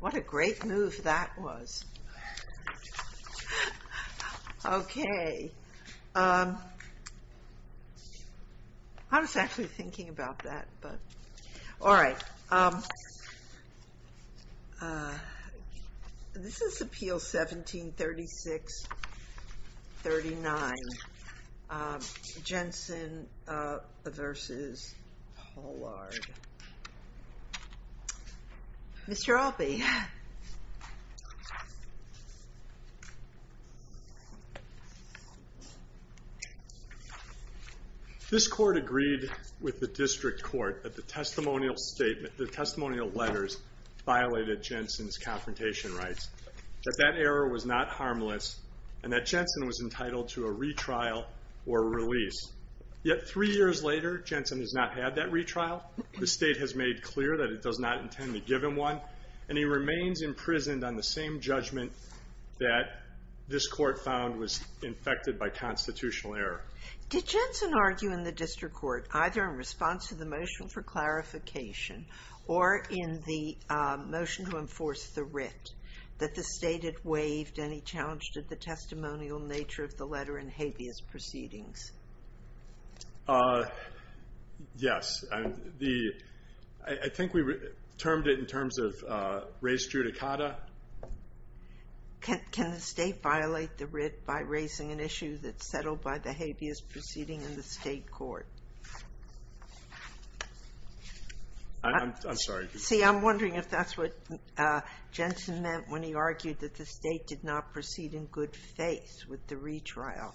What a great move that was. Okay. I was actually thinking about that. All right. This is appeal 1736-39. Jensen v. Pollard. Mr. Albee. This court agreed with the district court that the testimonial letters violated Jensen's confrontation rights. That that error was not harmless and that Jensen was entitled to a retrial or release. Yet three years later, Jensen has not had that retrial. The state has made clear that it does not intend to give him one. And he remains imprisoned on the same judgment that this court found was infected by constitutional error. Did Jensen argue in the district court, either in response to the motion for clarification or in the motion to enforce the writ, that the state had waived any challenge to the testimonial nature of the letter in habeas proceedings? Yes. I think we termed it in terms of res judicata. Can the state violate the writ by raising an issue that's settled by the habeas proceeding in the state court? I'm sorry. See, I'm wondering if that's what Jensen meant when he argued that the state did not proceed in good faith with the retrial.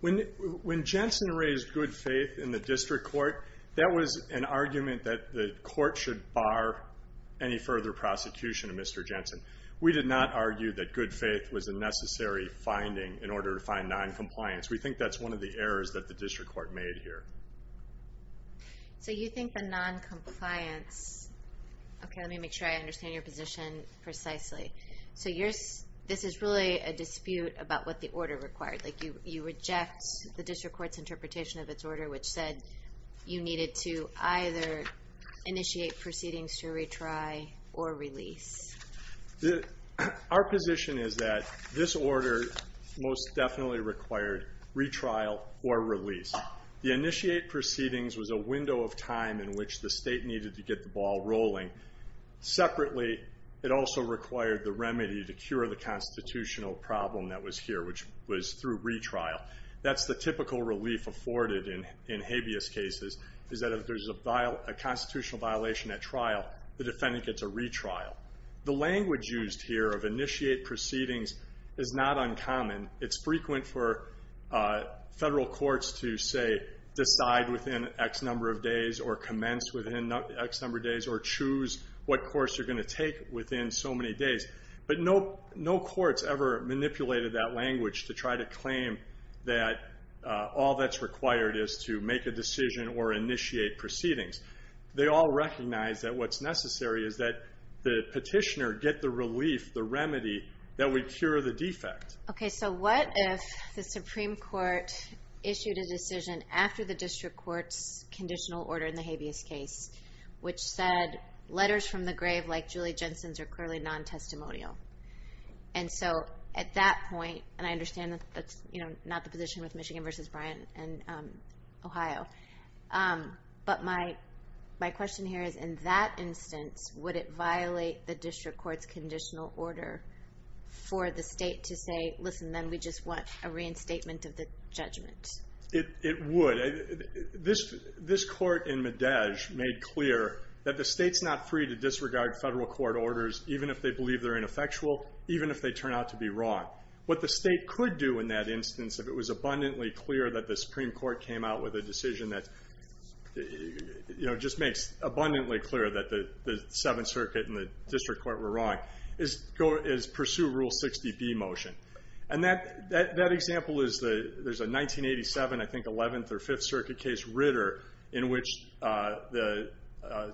When Jensen raised good faith in the district court, that was an argument that the court should bar any further prosecution of Mr. Jensen. We did not argue that good faith was a necessary finding in order to find noncompliance. We think that's one of the errors that the district court made here. So you think the noncompliance... Okay, let me make sure I understand your position precisely. So this is really a dispute about what the order required. You reject the district court's interpretation of its order, which said you needed to either initiate proceedings to retry or release. Our position is that this order most definitely required retrial or release. The initiate proceedings was a window of time in which the state needed to get the ball rolling. Separately, it also required the remedy to cure the constitutional problem that was here, which was through retrial. That's the typical relief afforded in habeas cases, is that if there's a constitutional violation at trial, the defendant gets a retrial. The language used here of initiate proceedings is not uncommon. It's frequent for federal courts to, say, decide within X number of days or commence within X number of days or choose what course you're going to take within so many days. But no court's ever manipulated that language to try to claim that all that's required is to make a decision or initiate proceedings. They all recognize that what's necessary is that the petitioner get the relief, the remedy, that would cure the defect. Okay, so what if the Supreme Court issued a decision after the district court's conditional order in the habeas case, which said letters from the grave like Julie Jensen's are clearly non-testimonial? And so at that point, and I understand that's not the position with Michigan v. Bryant and Ohio, but my question here is, in that instance, would it violate the district court's conditional order for the state to say, listen, then we just want a reinstatement of the judgment? It would. This court in Medage made clear that the state's not free to disregard federal court orders, even if they believe they're ineffectual, even if they turn out to be wrong. What the state could do in that instance, if it was abundantly clear that the Supreme Court came out with a decision that, you know, just makes abundantly clear that the Seventh Circuit and the district court were wrong, is pursue Rule 60B motion. And that example is, there's a 1987, I think, Eleventh or Fifth Circuit case, Ritter, in which the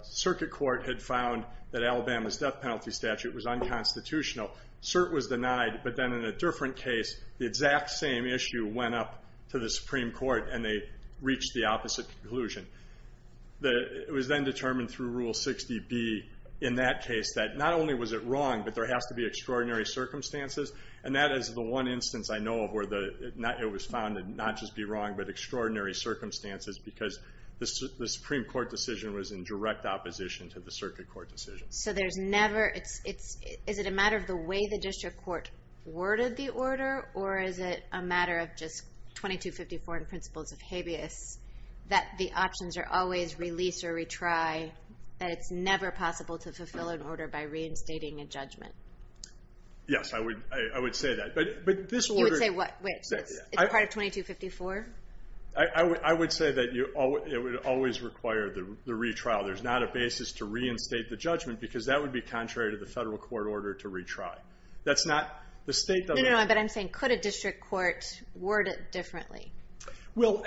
circuit court had found that Alabama's death penalty statute was unconstitutional. Cert was denied, but then in a different case, the exact same issue went up to the Supreme Court, and they reached the opposite conclusion. It was then determined through Rule 60B in that case that not only was it wrong, but there has to be extraordinary circumstances. And that is the one instance I know of where it was found to not just be wrong, but extraordinary circumstances because the Supreme Court decision was in direct opposition to the circuit court decision. So there's never – is it a matter of the way the district court worded the order, or is it a matter of just 2254 and principles of habeas, that the options are always release or retry, that it's never possible to fulfill an order by reinstating a judgment? Yes, I would say that. But this order – You would say what? Wait, so it's part of 2254? I would say that it would always require the retrial. There's not a basis to reinstate the judgment because that would be contrary to the federal court order to retry. That's not – the state doesn't – No, no, no, but I'm saying could a district court word it differently? Well,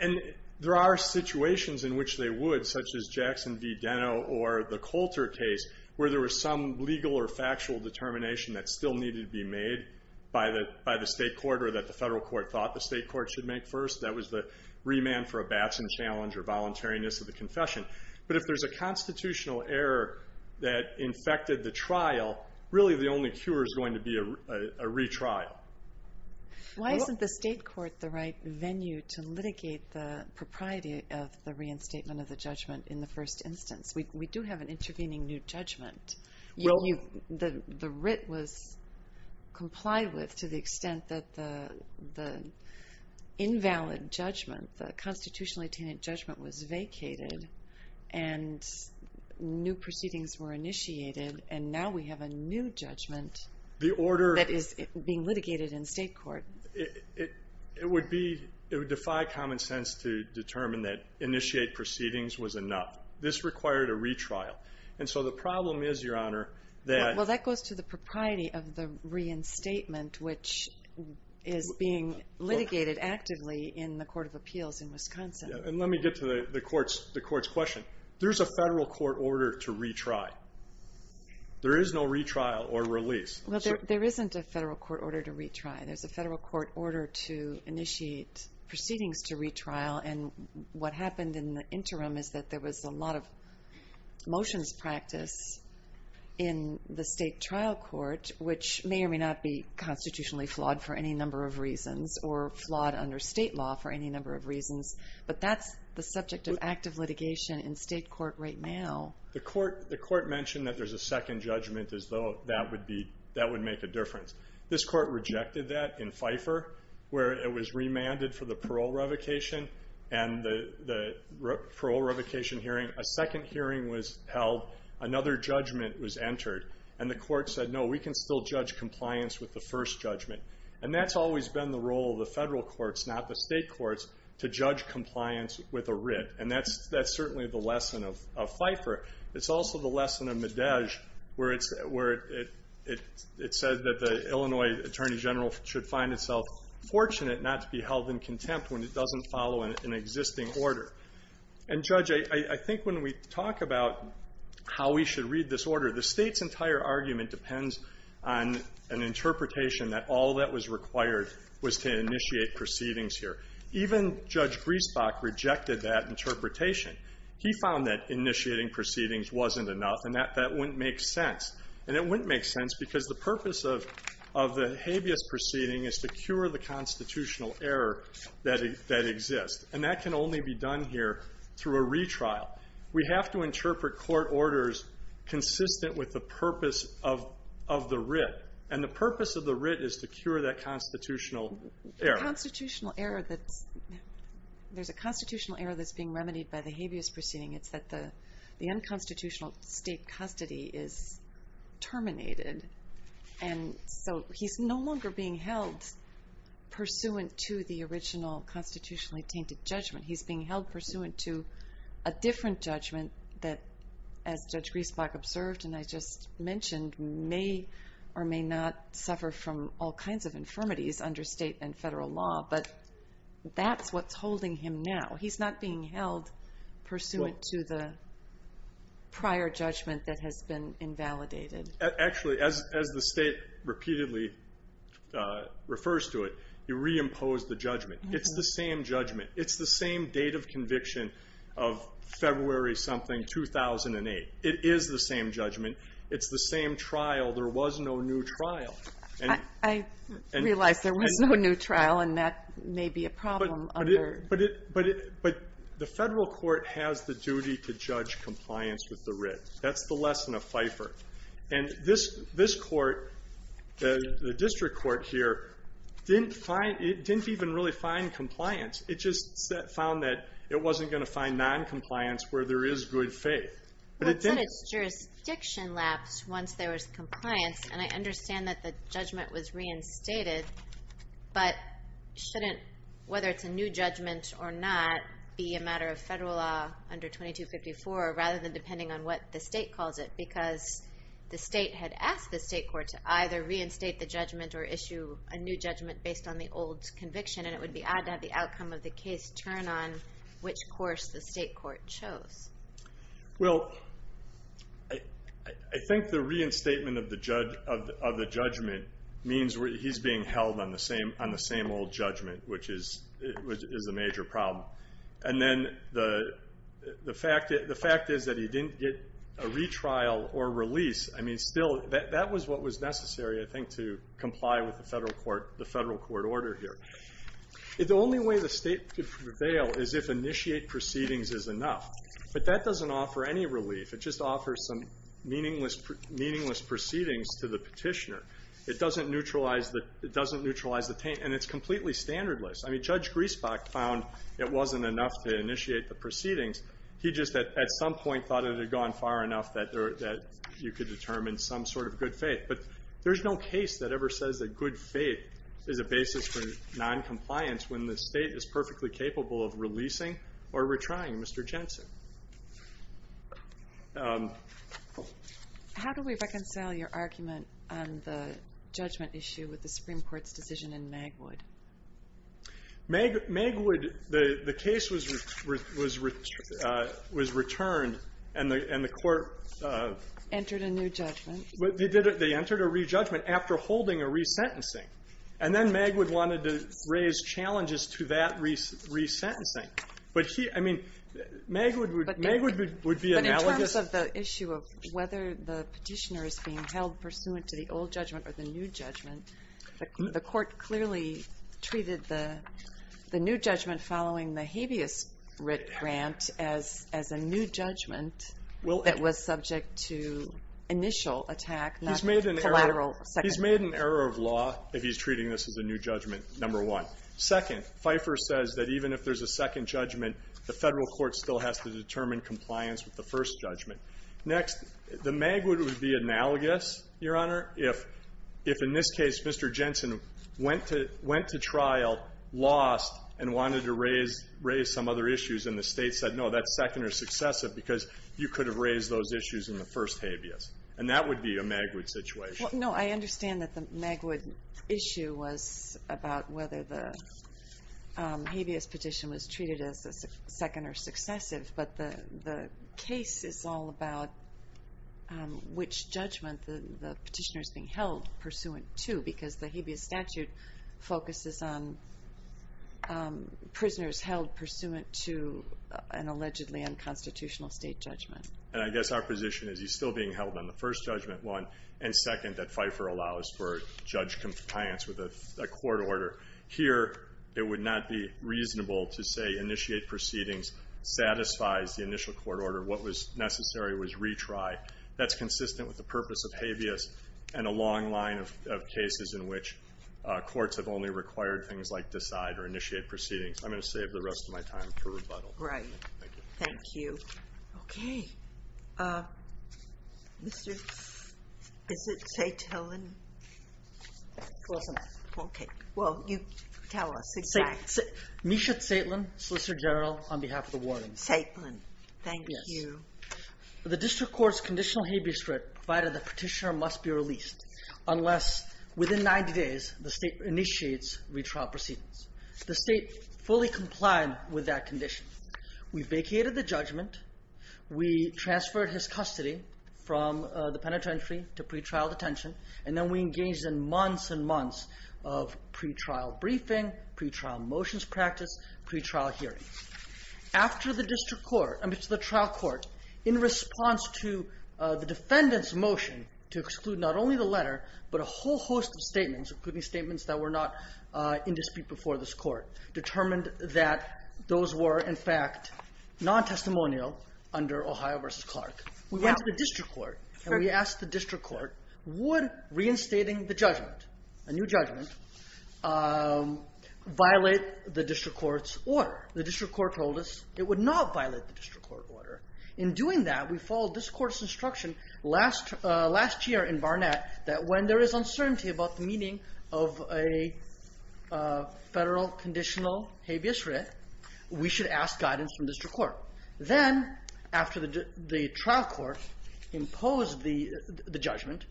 and there are situations in which they would, such as Jackson v. Deno or the Coulter case, where there was some legal or factual determination that still needed to be made by the state court or that the federal court thought the state court should make first. That was the remand for a Batson challenge or voluntariness of the confession. But if there's a constitutional error that infected the trial, really the only cure is going to be a retrial. Why isn't the state court the right venue to litigate the propriety of the reinstatement of the judgment in the first instance? We do have an intervening new judgment. The writ was complied with to the extent that the invalid judgment, the constitutionally tenant judgment, was vacated and new proceedings were initiated, and now we have a new judgment that is being litigated in state court. It would be – it would defy common sense to determine that initiate proceedings was enough. This required a retrial. And so the problem is, Your Honor, that – And let me get to the court's question. There's a federal court order to retry. There is no retrial or release. Well, there isn't a federal court order to retry. There's a federal court order to initiate proceedings to retrial, and what happened in the interim is that there was a lot of motions practice in the state trial court, which may or may not be constitutionally flawed for any number of reasons or flawed under state law for any number of reasons, but that's the subject of active litigation in state court right now. The court mentioned that there's a second judgment as though that would be – that would make a difference. This court rejected that in FIFER where it was remanded for the parole revocation and the parole revocation hearing. A second hearing was held. Another judgment was entered, and the court said, no, we can still judge compliance with the first judgment. And that's always been the role of the federal courts, not the state courts, to judge compliance with a writ, and that's certainly the lesson of FIFER. It's also the lesson of Medej where it said that the Illinois attorney general should find itself fortunate not to be held in contempt when it doesn't follow an existing order. And, Judge, I think when we talk about how we should read this order, the state's entire argument depends on an interpretation that all that was required was to initiate proceedings here. Even Judge Griesbach rejected that interpretation. He found that initiating proceedings wasn't enough, and that wouldn't make sense. And it wouldn't make sense because the purpose of the habeas proceeding is to cure the constitutional error that exists, and that can only be done here through a retrial. We have to interpret court orders consistent with the purpose of the writ, and the purpose of the writ is to cure that constitutional error. There's a constitutional error that's being remedied by the habeas proceeding. It's that the unconstitutional state custody is terminated, and so he's no longer being held pursuant to the original constitutionally tainted judgment. He's being held pursuant to a different judgment that, as Judge Griesbach observed and I just mentioned, may or may not suffer from all kinds of infirmities under state and federal law, but that's what's holding him now. He's not being held pursuant to the prior judgment that has been invalidated. Actually, as the state repeatedly refers to it, you reimpose the judgment. It's the same judgment. It's the same date of conviction of February something 2008. It is the same judgment. It's the same trial. There was no new trial. And I realize there was no new trial, and that may be a problem under. But the federal court has the duty to judge compliance with the writ. That's the lesson of FIFER. And this court, the district court here, didn't even really find compliance. It just found that it wasn't going to find noncompliance where there is good faith. Well, but its jurisdiction lapsed once there was compliance, and I understand that the judgment was reinstated. But shouldn't, whether it's a new judgment or not, be a matter of federal law under 2254 rather than depending on what the state calls it? Because the state had asked the state court to either reinstate the judgment or issue a new judgment based on the old conviction, and it would be odd to have the outcome of the case turn on which course the state court chose. Well, I think the reinstatement of the judgment means he's being held on the same old judgment, which is a major problem. And then the fact is that he didn't get a retrial or release. I mean, still, that was what was necessary, I think, to comply with the federal court order here. The only way the state could prevail is if initiate proceedings is enough. But that doesn't offer any relief. It just offers some meaningless proceedings to the petitioner. It doesn't neutralize the taint, and it's completely standardless. I mean, Judge Griesbach found it wasn't enough to initiate the proceedings. He just at some point thought it had gone far enough that you could determine some sort of good faith. But there's no case that ever says that good faith is a basis for noncompliance when the state is perfectly capable of releasing or retrying Mr. Jensen. How do we reconcile your argument on the judgment issue with the Supreme Court's decision in Magwood? Magwood, the case was returned, and the court- Entered a new judgment. They entered a re-judgment after holding a resentencing. And then Magwood wanted to raise challenges to that resentencing. But he, I mean, Magwood would be analogous- But in terms of the issue of whether the petitioner is being held pursuant to the old judgment or the new judgment, the court clearly treated the new judgment following the habeas writ grant as a new judgment that was subject to initial attack, not collateral. He's made an error of law if he's treating this as a new judgment, number one. Second, Pfeiffer says that even if there's a second judgment, the Federal court still has to determine compliance with the first judgment. Next, the Magwood would be analogous, Your Honor, if in this case Mr. Jensen went to trial, lost, and wanted to raise some other issues, and the state said, no, that's second or successive because you could have raised those issues in the first habeas. And that would be a Magwood situation. No, I understand that the Magwood issue was about whether the habeas petition was treated as second or successive. But the case is all about which judgment the petitioner is being held pursuant to because the habeas statute focuses on prisoners held pursuant to an allegedly unconstitutional state judgment. And I guess our position is he's still being held on the first judgment, one, and second, that Pfeiffer allows for judge compliance with a court order. Here, it would not be reasonable to say initiate proceedings satisfies the initial court order. What was necessary was retry. That's consistent with the purpose of habeas and a long line of cases in which courts have only required things like decide or initiate proceedings. I'm going to save the rest of my time for rebuttal. Right. Thank you. Okay. Is it Saitlin? Close enough. Okay. Well, you tell us. Misha Saitlin, Solicitor General, on behalf of the warden. Saitlin. Thank you. The district court's conditional habeas threat provided the petitioner must be released unless within 90 days the state initiates retrial proceedings. The state fully complied with that condition. We vacated the judgment. We transferred his custody from the penitentiary to pre-trial detention, and then we engaged in months and months of pre-trial briefing, pre-trial motions practice, pre-trial hearings. After the trial court, in response to the defendant's motion to exclude not only the letter but a whole host of statements, including statements that were not in dispute before this court, determined that those were, in fact, non-testimonial under Ohio v. Clark. We went to the district court, and we asked the district court, would reinstating the judgment, a new judgment, violate the district court's order? The district court told us it would not violate the district court order. In doing that, we followed this court's instruction last year in Barnett that when there is uncertainty about the meaning of a Federal conditional habeas writ, we should ask guidance from the district court. Then, after the trial court imposed the judgment,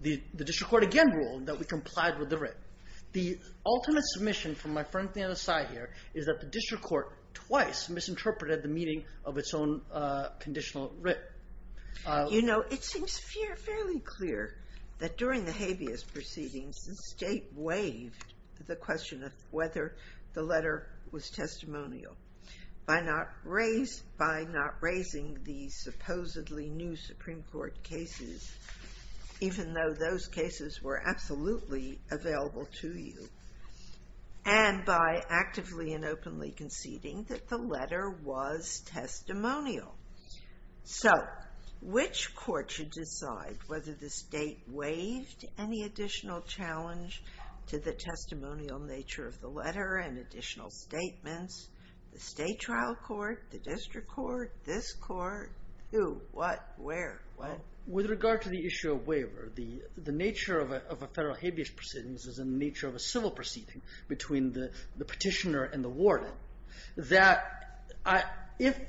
the district court again ruled that we complied with the writ. The ultimate submission from my friend, Dana Sy, here, is that the district court twice misinterpreted the meaning of its own conditional writ. It seems fairly clear that during the habeas proceedings, the state waived the question of whether the letter was testimonial by not raising the supposedly new Supreme Court cases, even though those cases were absolutely available to you, and by actively and openly conceding that the letter was testimonial. So, which court should decide whether the state waived any additional challenge to the testimonial nature of the letter and additional statements? The state trial court, the district court, this court? Who, what, where, when? With regard to the issue of waiver, the nature of a Federal habeas proceedings is in the nature of a civil proceeding between the petitioner and the warden. If a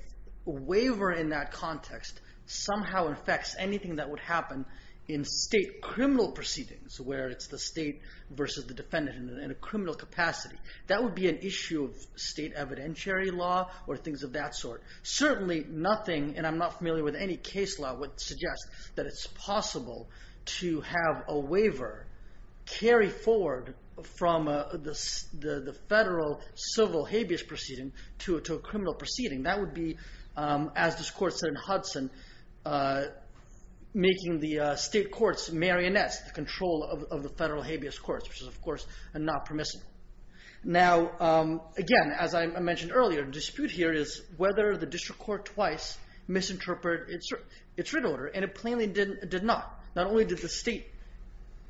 waiver in that context somehow affects anything that would happen in state criminal proceedings, where it's the state versus the defendant in a criminal capacity, that would be an issue of state evidentiary law or things of that sort. Certainly, nothing, and I'm not familiar with any case law, would suggest that it's possible to have a waiver carry forward from the Federal civil habeas proceeding to a criminal proceeding. That would be, as this court said in Hudson, making the state courts marionettes to control of the Federal habeas courts, which is, of course, not permissible. Now, again, as I mentioned earlier, the dispute here is whether the district court twice misinterpreted its written order, and it plainly did not. Not only did the state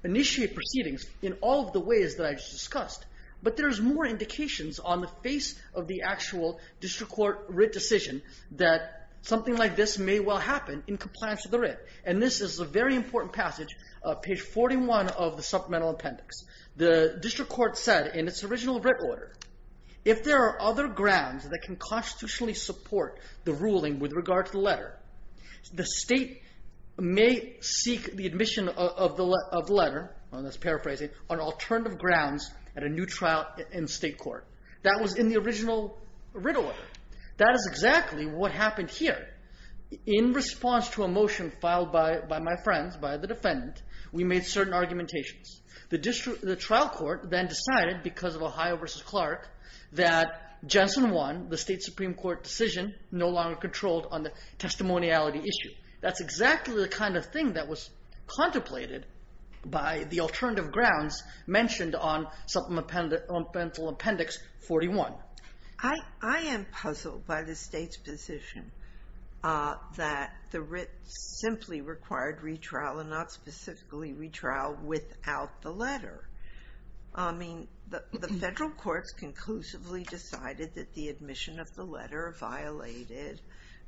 initiate proceedings in all of the ways that I just discussed, but there's more indications on the face of the actual district court writ decision that something like this may well happen in compliance with the writ, and this is a very important passage, page 41 of the supplemental appendix. The district court said in its original writ order, if there are other grounds that can constitutionally support the ruling with regard to the letter, the state may seek the admission of the letter, let's paraphrase it, on alternative grounds at a new trial in state court. That was in the original writ order. That is exactly what happened here. In response to a motion filed by my friends, by the defendant, we made certain argumentations. The trial court then decided, because of Ohio v. Clark, that Jensen 1, the state supreme court decision, no longer controlled on the testimoniality issue. That's exactly the kind of thing that was contemplated by the alternative grounds mentioned on supplemental appendix 41. I am puzzled by the state's position that the writ simply required retrial and not specifically retrial without the letter. I mean, the federal courts conclusively decided that the admission of the letter violated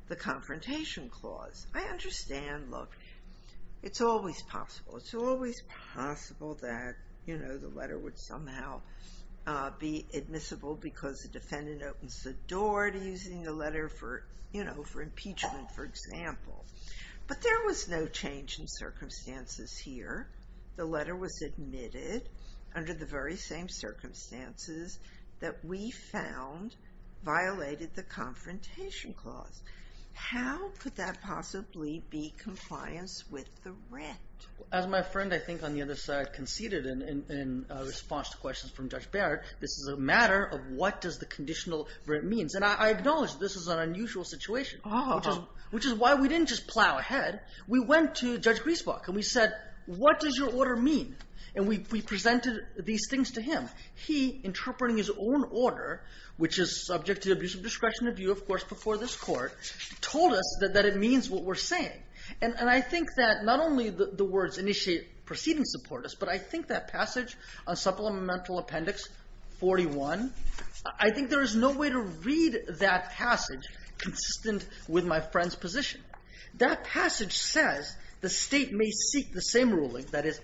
the confrontation clause. I understand, look, it's always possible. It's always possible that the letter would somehow be admissible because the defendant opens the door to using the letter for impeachment, for example. But there was no change in circumstances here. The letter was admitted under the very same circumstances that we found violated the confrontation clause. How could that possibly be compliance with the writ? As my friend, I think, on the other side conceded in response to questions from Judge Barrett, this is a matter of what does the conditional writ mean. I acknowledge this is an unusual situation, which is why we didn't just plow ahead. We went to Judge Griesbach and we said, what does your order mean? And we presented these things to him. He, interpreting his own order, which is subject to the abuse of discretion of view, of course, before this Court, told us that it means what we're saying. And I think that not only the words initiate proceeding support us, but I think that passage on supplemental appendix 41, I think there is no way to read that passage consistent with my friend's position. That passage says the state may seek the same ruling, that is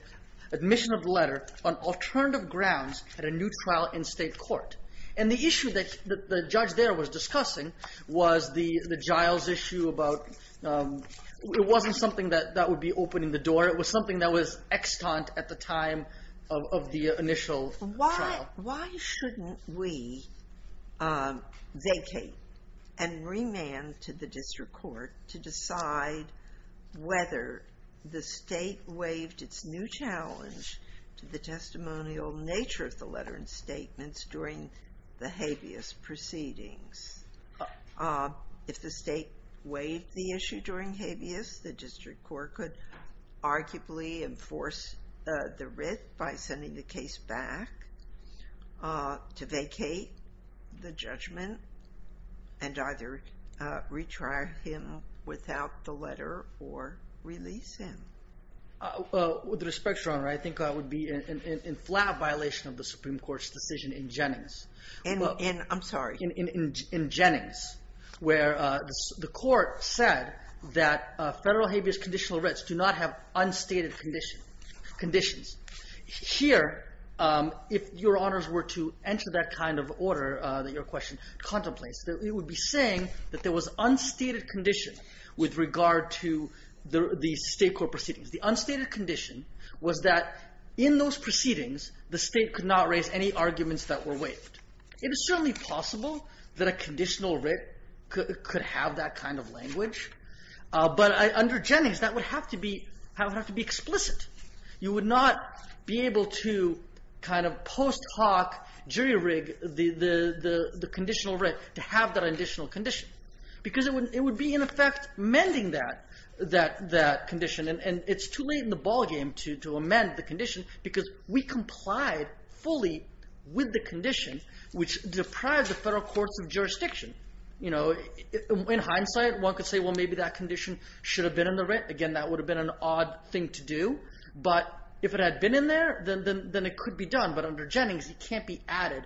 admission of the letter on alternative grounds at a new trial in state court. And the issue that the judge there was discussing was the Giles issue about it wasn't something that would be opening the door. It was something that was extant at the time of the initial trial. Why shouldn't we vacate and remand to the district court to decide whether the state waived its new challenge to the testimonial nature of the letter and statements during the habeas proceedings? If the state waived the issue during habeas, the district court could arguably enforce the writh by sending the case back to vacate the judgment and either retry him without the letter or release him. With respect, Your Honor, I think that would be in flat violation of the Supreme Court's decision in Jennings. I'm sorry. In Jennings, where the court said that federal habeas conditional wriths do not have unstated conditions. Here, if Your Honors were to enter that kind of order that your question contemplates, it would be saying that there was unstated condition with regard to the state court proceedings. The unstated condition was that in those proceedings, the state could not raise any arguments that were waived. It is certainly possible that a conditional writh could have that kind of language, but under Jennings, that would have to be explicit. You would not be able to kind of post hoc jury rig the conditional writh to have that additional condition because it would be, in effect, amending that condition because we complied fully with the condition which deprived the federal courts of jurisdiction. In hindsight, one could say, well, maybe that condition should have been in the writh. Again, that would have been an odd thing to do, but if it had been in there, then it could be done, but under Jennings, it can't be added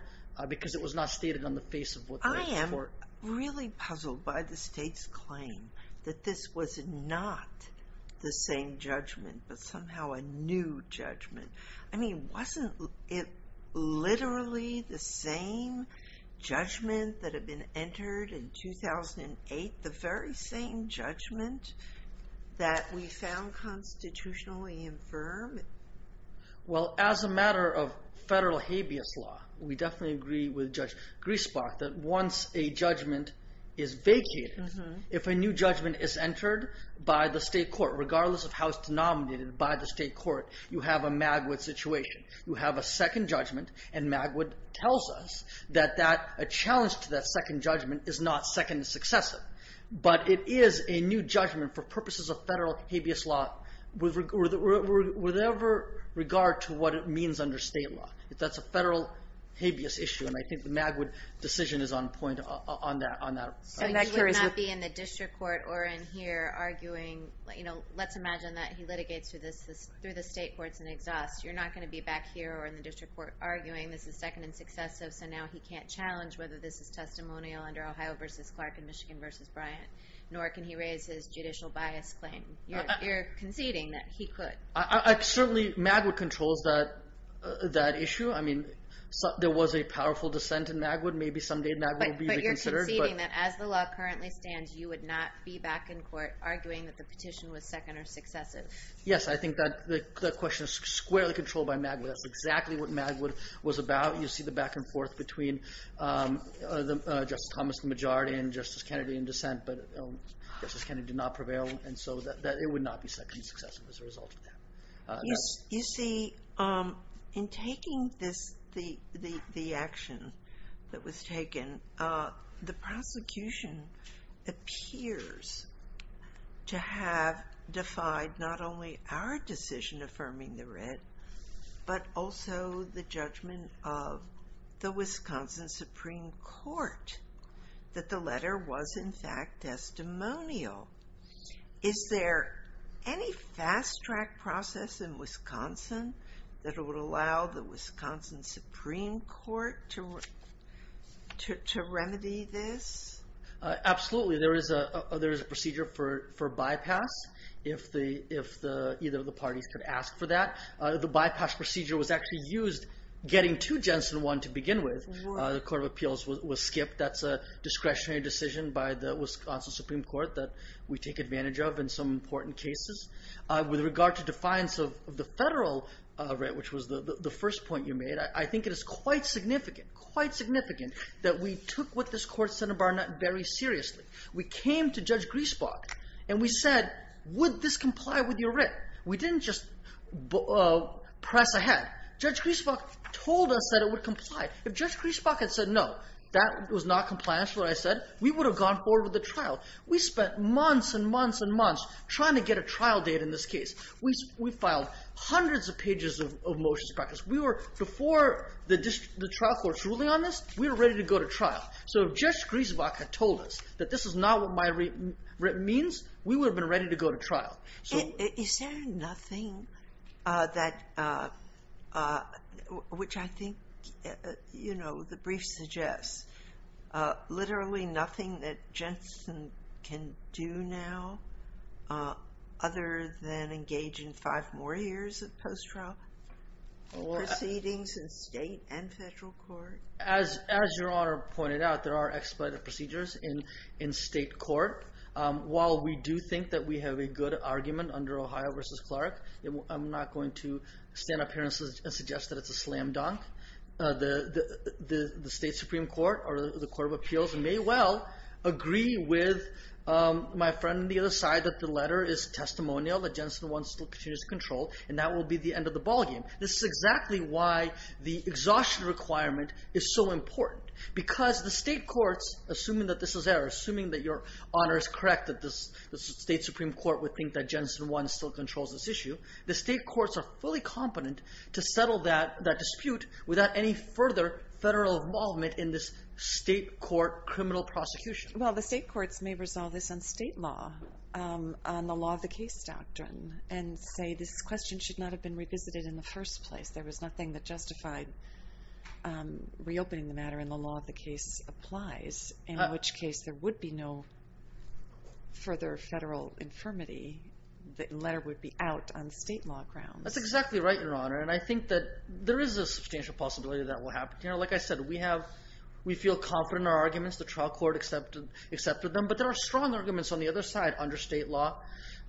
because it was not stated on the face of what the state court... I am really puzzled by the state's claim that this was not the same judgment but somehow a new judgment. I mean, wasn't it literally the same judgment that had been entered in 2008, the very same judgment that we found constitutionally infirm? Well, as a matter of federal habeas law, we definitely agree with Judge Griesbach that once a judgment is vacated, if a new judgment is entered by the state court, regardless of how it's denominated by the state court, you have a Magwood situation. You have a second judgment, and Magwood tells us that a challenge to that second judgment is not second successive, but it is a new judgment for purposes of federal habeas law with every regard to what it means under state law. That's a federal habeas issue, and I think the Magwood decision is on point on that. So you would not be in the district court or in here arguing... Let's imagine that he litigates through the state courts and exhausts. You're not going to be back here or in the district court arguing this is second and successive, so now he can't challenge whether this is testimonial under Ohio v. Clark and Michigan v. Bryant, nor can he raise his judicial bias claim. You're conceding that he could. Certainly, Magwood controls that issue. I mean, there was a powerful dissent in Magwood. Maybe someday Magwood will be reconsidered. You're conceding that as the law currently stands, you would not be back in court arguing that the petition was second or successive. Yes, I think that question is squarely controlled by Magwood. That's exactly what Magwood was about. You see the back and forth between Justice Thomas, the majority, and Justice Kennedy in dissent, but Justice Kennedy did not prevail, and so it would not be second and successive as a result of that. You see, in taking the action that was taken, the prosecution appears to have defied not only our decision affirming the writ, but also the judgment of the Wisconsin Supreme Court that the letter was in fact testimonial. Is there any fast-track process in Wisconsin that would allow the Wisconsin Supreme Court to remedy this? Absolutely. There is a procedure for bypass if either of the parties could ask for that. The bypass procedure was actually used getting to Jensen 1 to begin with. The Court of Appeals was skipped. That's a discretionary decision by the Wisconsin Supreme Court that we take advantage of in some important cases. With regard to defiance of the federal writ, which was the first point you made, I think it is quite significant, quite significant, that we took what this Court said very seriously. We came to Judge Griesbach, and we said, would this comply with your writ? We didn't just press ahead. Judge Griesbach told us that it would comply. If Judge Griesbach had said no, that was not compliance with what I said, we would have gone forward with the trial. We spent months and months and months trying to get a trial date in this case. We filed hundreds of pages of motions of practice. Before the trial court's ruling on this, we were ready to go to trial. If Judge Griesbach had told us that this is not what my writ means, we would have been ready to go to trial. Is there nothing that, which I think the brief suggests, literally nothing that Jensen can do now other than engage in five more years of post-trial? Proceedings in state and federal court? As Your Honor pointed out, there are expedited procedures in state court. While we do think that we have a good argument under Ohio v. Clark, I'm not going to stand up here and suggest that it's a slam dunk. The state Supreme Court or the Court of Appeals may well agree with my friend on the other side that the letter is testimonial, that Jensen wants to continue to control, and that will be the end of the ballgame. This is exactly why the exhaustion requirement is so important. Because the state courts, assuming that this is there, assuming that Your Honor is correct that the state Supreme Court would think that Jensen 1 still controls this issue, the state courts are fully competent to settle that dispute without any further federal involvement in this state court criminal prosecution. Well, the state courts may resolve this on state law, on the law of the case doctrine, and say this question should not have been revisited in the first place. There was nothing that justified reopening the matter in the law of the case applies, in which case there would be no further federal infirmity. The letter would be out on state law grounds. That's exactly right, Your Honor, and I think that there is a substantial possibility that will happen. Like I said, we feel confident in our arguments. The trial court accepted them, but there are strong arguments on the other side under state law,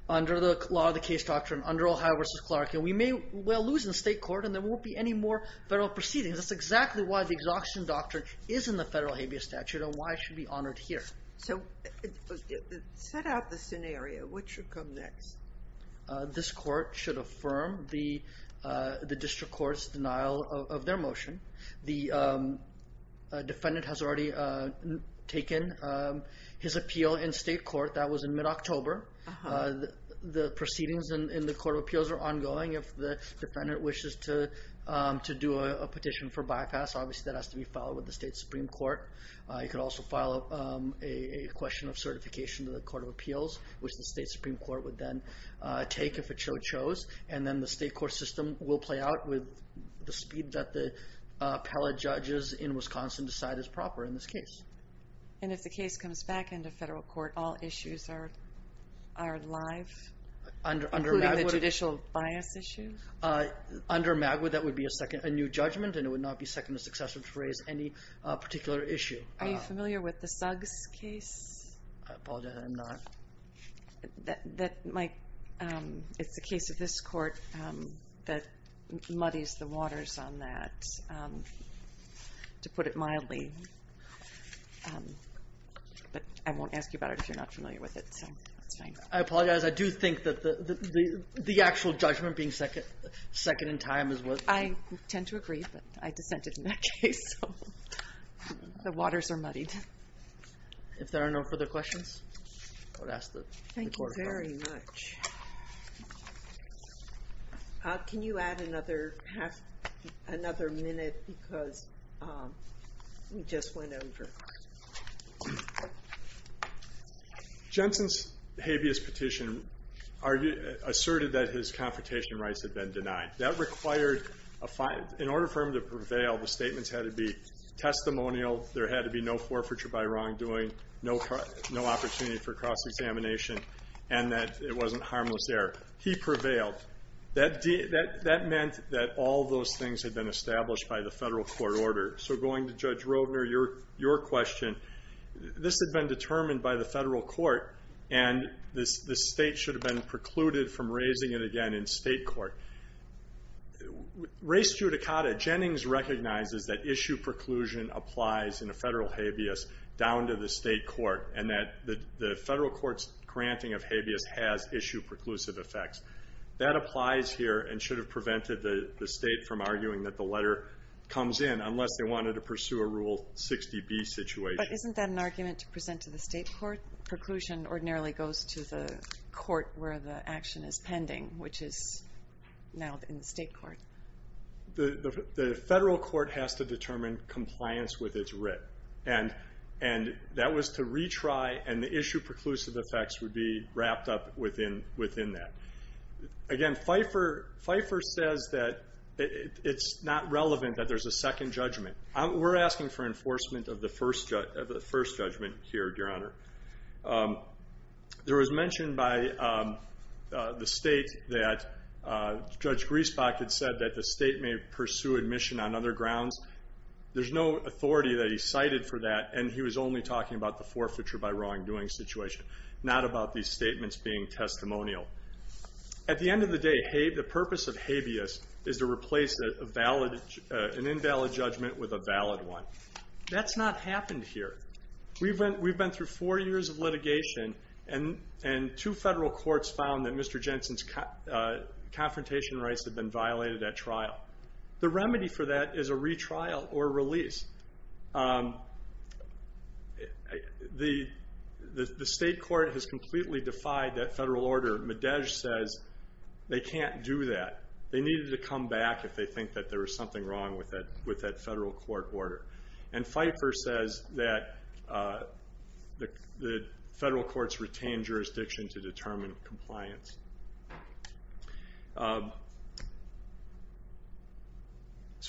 under the law of the case doctrine, under Ohio v. Clark, and we may well lose in state court and there won't be any more federal proceedings. That's exactly why the exhaustion doctrine is in the federal habeas statute and why it should be honored here. So set out the scenario. What should come next? This court should affirm the district court's denial of their motion. The defendant has already taken his appeal in state court. That was in mid-October. The proceedings in the Court of Appeals are ongoing. If the defendant wishes to do a petition for bypass, obviously that has to be filed with the state Supreme Court. You could also file a question of certification to the Court of Appeals, which the state Supreme Court would then take if it so chose, and then the state court system will play out with the speed that the appellate judges in Wisconsin decide is proper in this case. And if the case comes back into federal court, all issues are alive, including the judicial bias issue? Under MAGWA, that would be a new judgment, and it would not be second to successive to raise any particular issue. Are you familiar with the Suggs case? I apologize, I'm not. It's a case of this court that muddies the waters on that, to put it mildly. But I won't ask you about it if you're not familiar with it. I apologize. I do think that the actual judgment being second in time is what... I tend to agree, but I dissented in that case. The waters are muddied. If there are no further questions, I would ask the Court of Appeals. Thank you very much. Can you add another minute because we just went over? Jensen's habeas petition asserted that his confrontation rights had been denied. In order for him to prevail, the statements had to be testimonial. There had to be no forfeiture by wrongdoing, no opportunity for cross-examination, and that it wasn't harmless error. He prevailed. That meant that all those things had been established by the federal court order. So going to Judge Roedner, your question, this had been determined by the federal court, and the state should have been precluded from raising it again in state court. Race judicata, Jennings recognizes that issue preclusion applies in a federal habeas down to the state court, and that the federal court's granting of habeas has issue preclusive effects. That applies here and should have prevented the state from arguing that the letter comes in unless they wanted to pursue a Rule 60B situation. But isn't that an argument to present to the state court? Preclusion ordinarily goes to the court where the action is pending, which is now in the state court. The federal court has to determine compliance with its writ. And that was to retry, and the issue preclusive effects would be wrapped up within that. Again, Pfeiffer says that it's not relevant that there's a second judgment. We're asking for enforcement of the first judgment here, Your Honor. There was mention by the state that Judge Griesbach had said that the state may pursue admission on other grounds. There's no authority that he cited for that, and he was only talking about the forfeiture by wrongdoing situation, not about these statements being testimonial. At the end of the day, the purpose of habeas is to replace an invalid judgment with a valid one. That's not happened here. We've been through four years of litigation, and two federal courts found that Mr. Jensen's confrontation rights had been violated at trial. The remedy for that is a retrial or release. The state court has completely defied that federal order. Medej says they can't do that. They needed to come back if they think that there was something wrong with that federal court order. Pfeiffer says that the federal courts retain jurisdiction to determine compliance.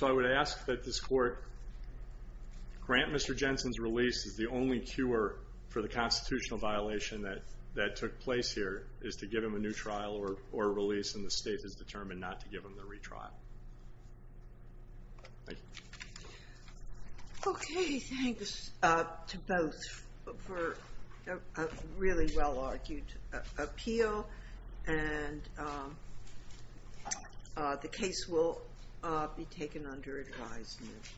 I would ask that this court grant Mr. Jensen's release as the only cure for the constitutional violation that took place here, is to give him a new trial or release, and the state is determined not to give him the retrial. Thank you. Okay, thanks to both for a really well-argued appeal, and the case will be taken under advisement.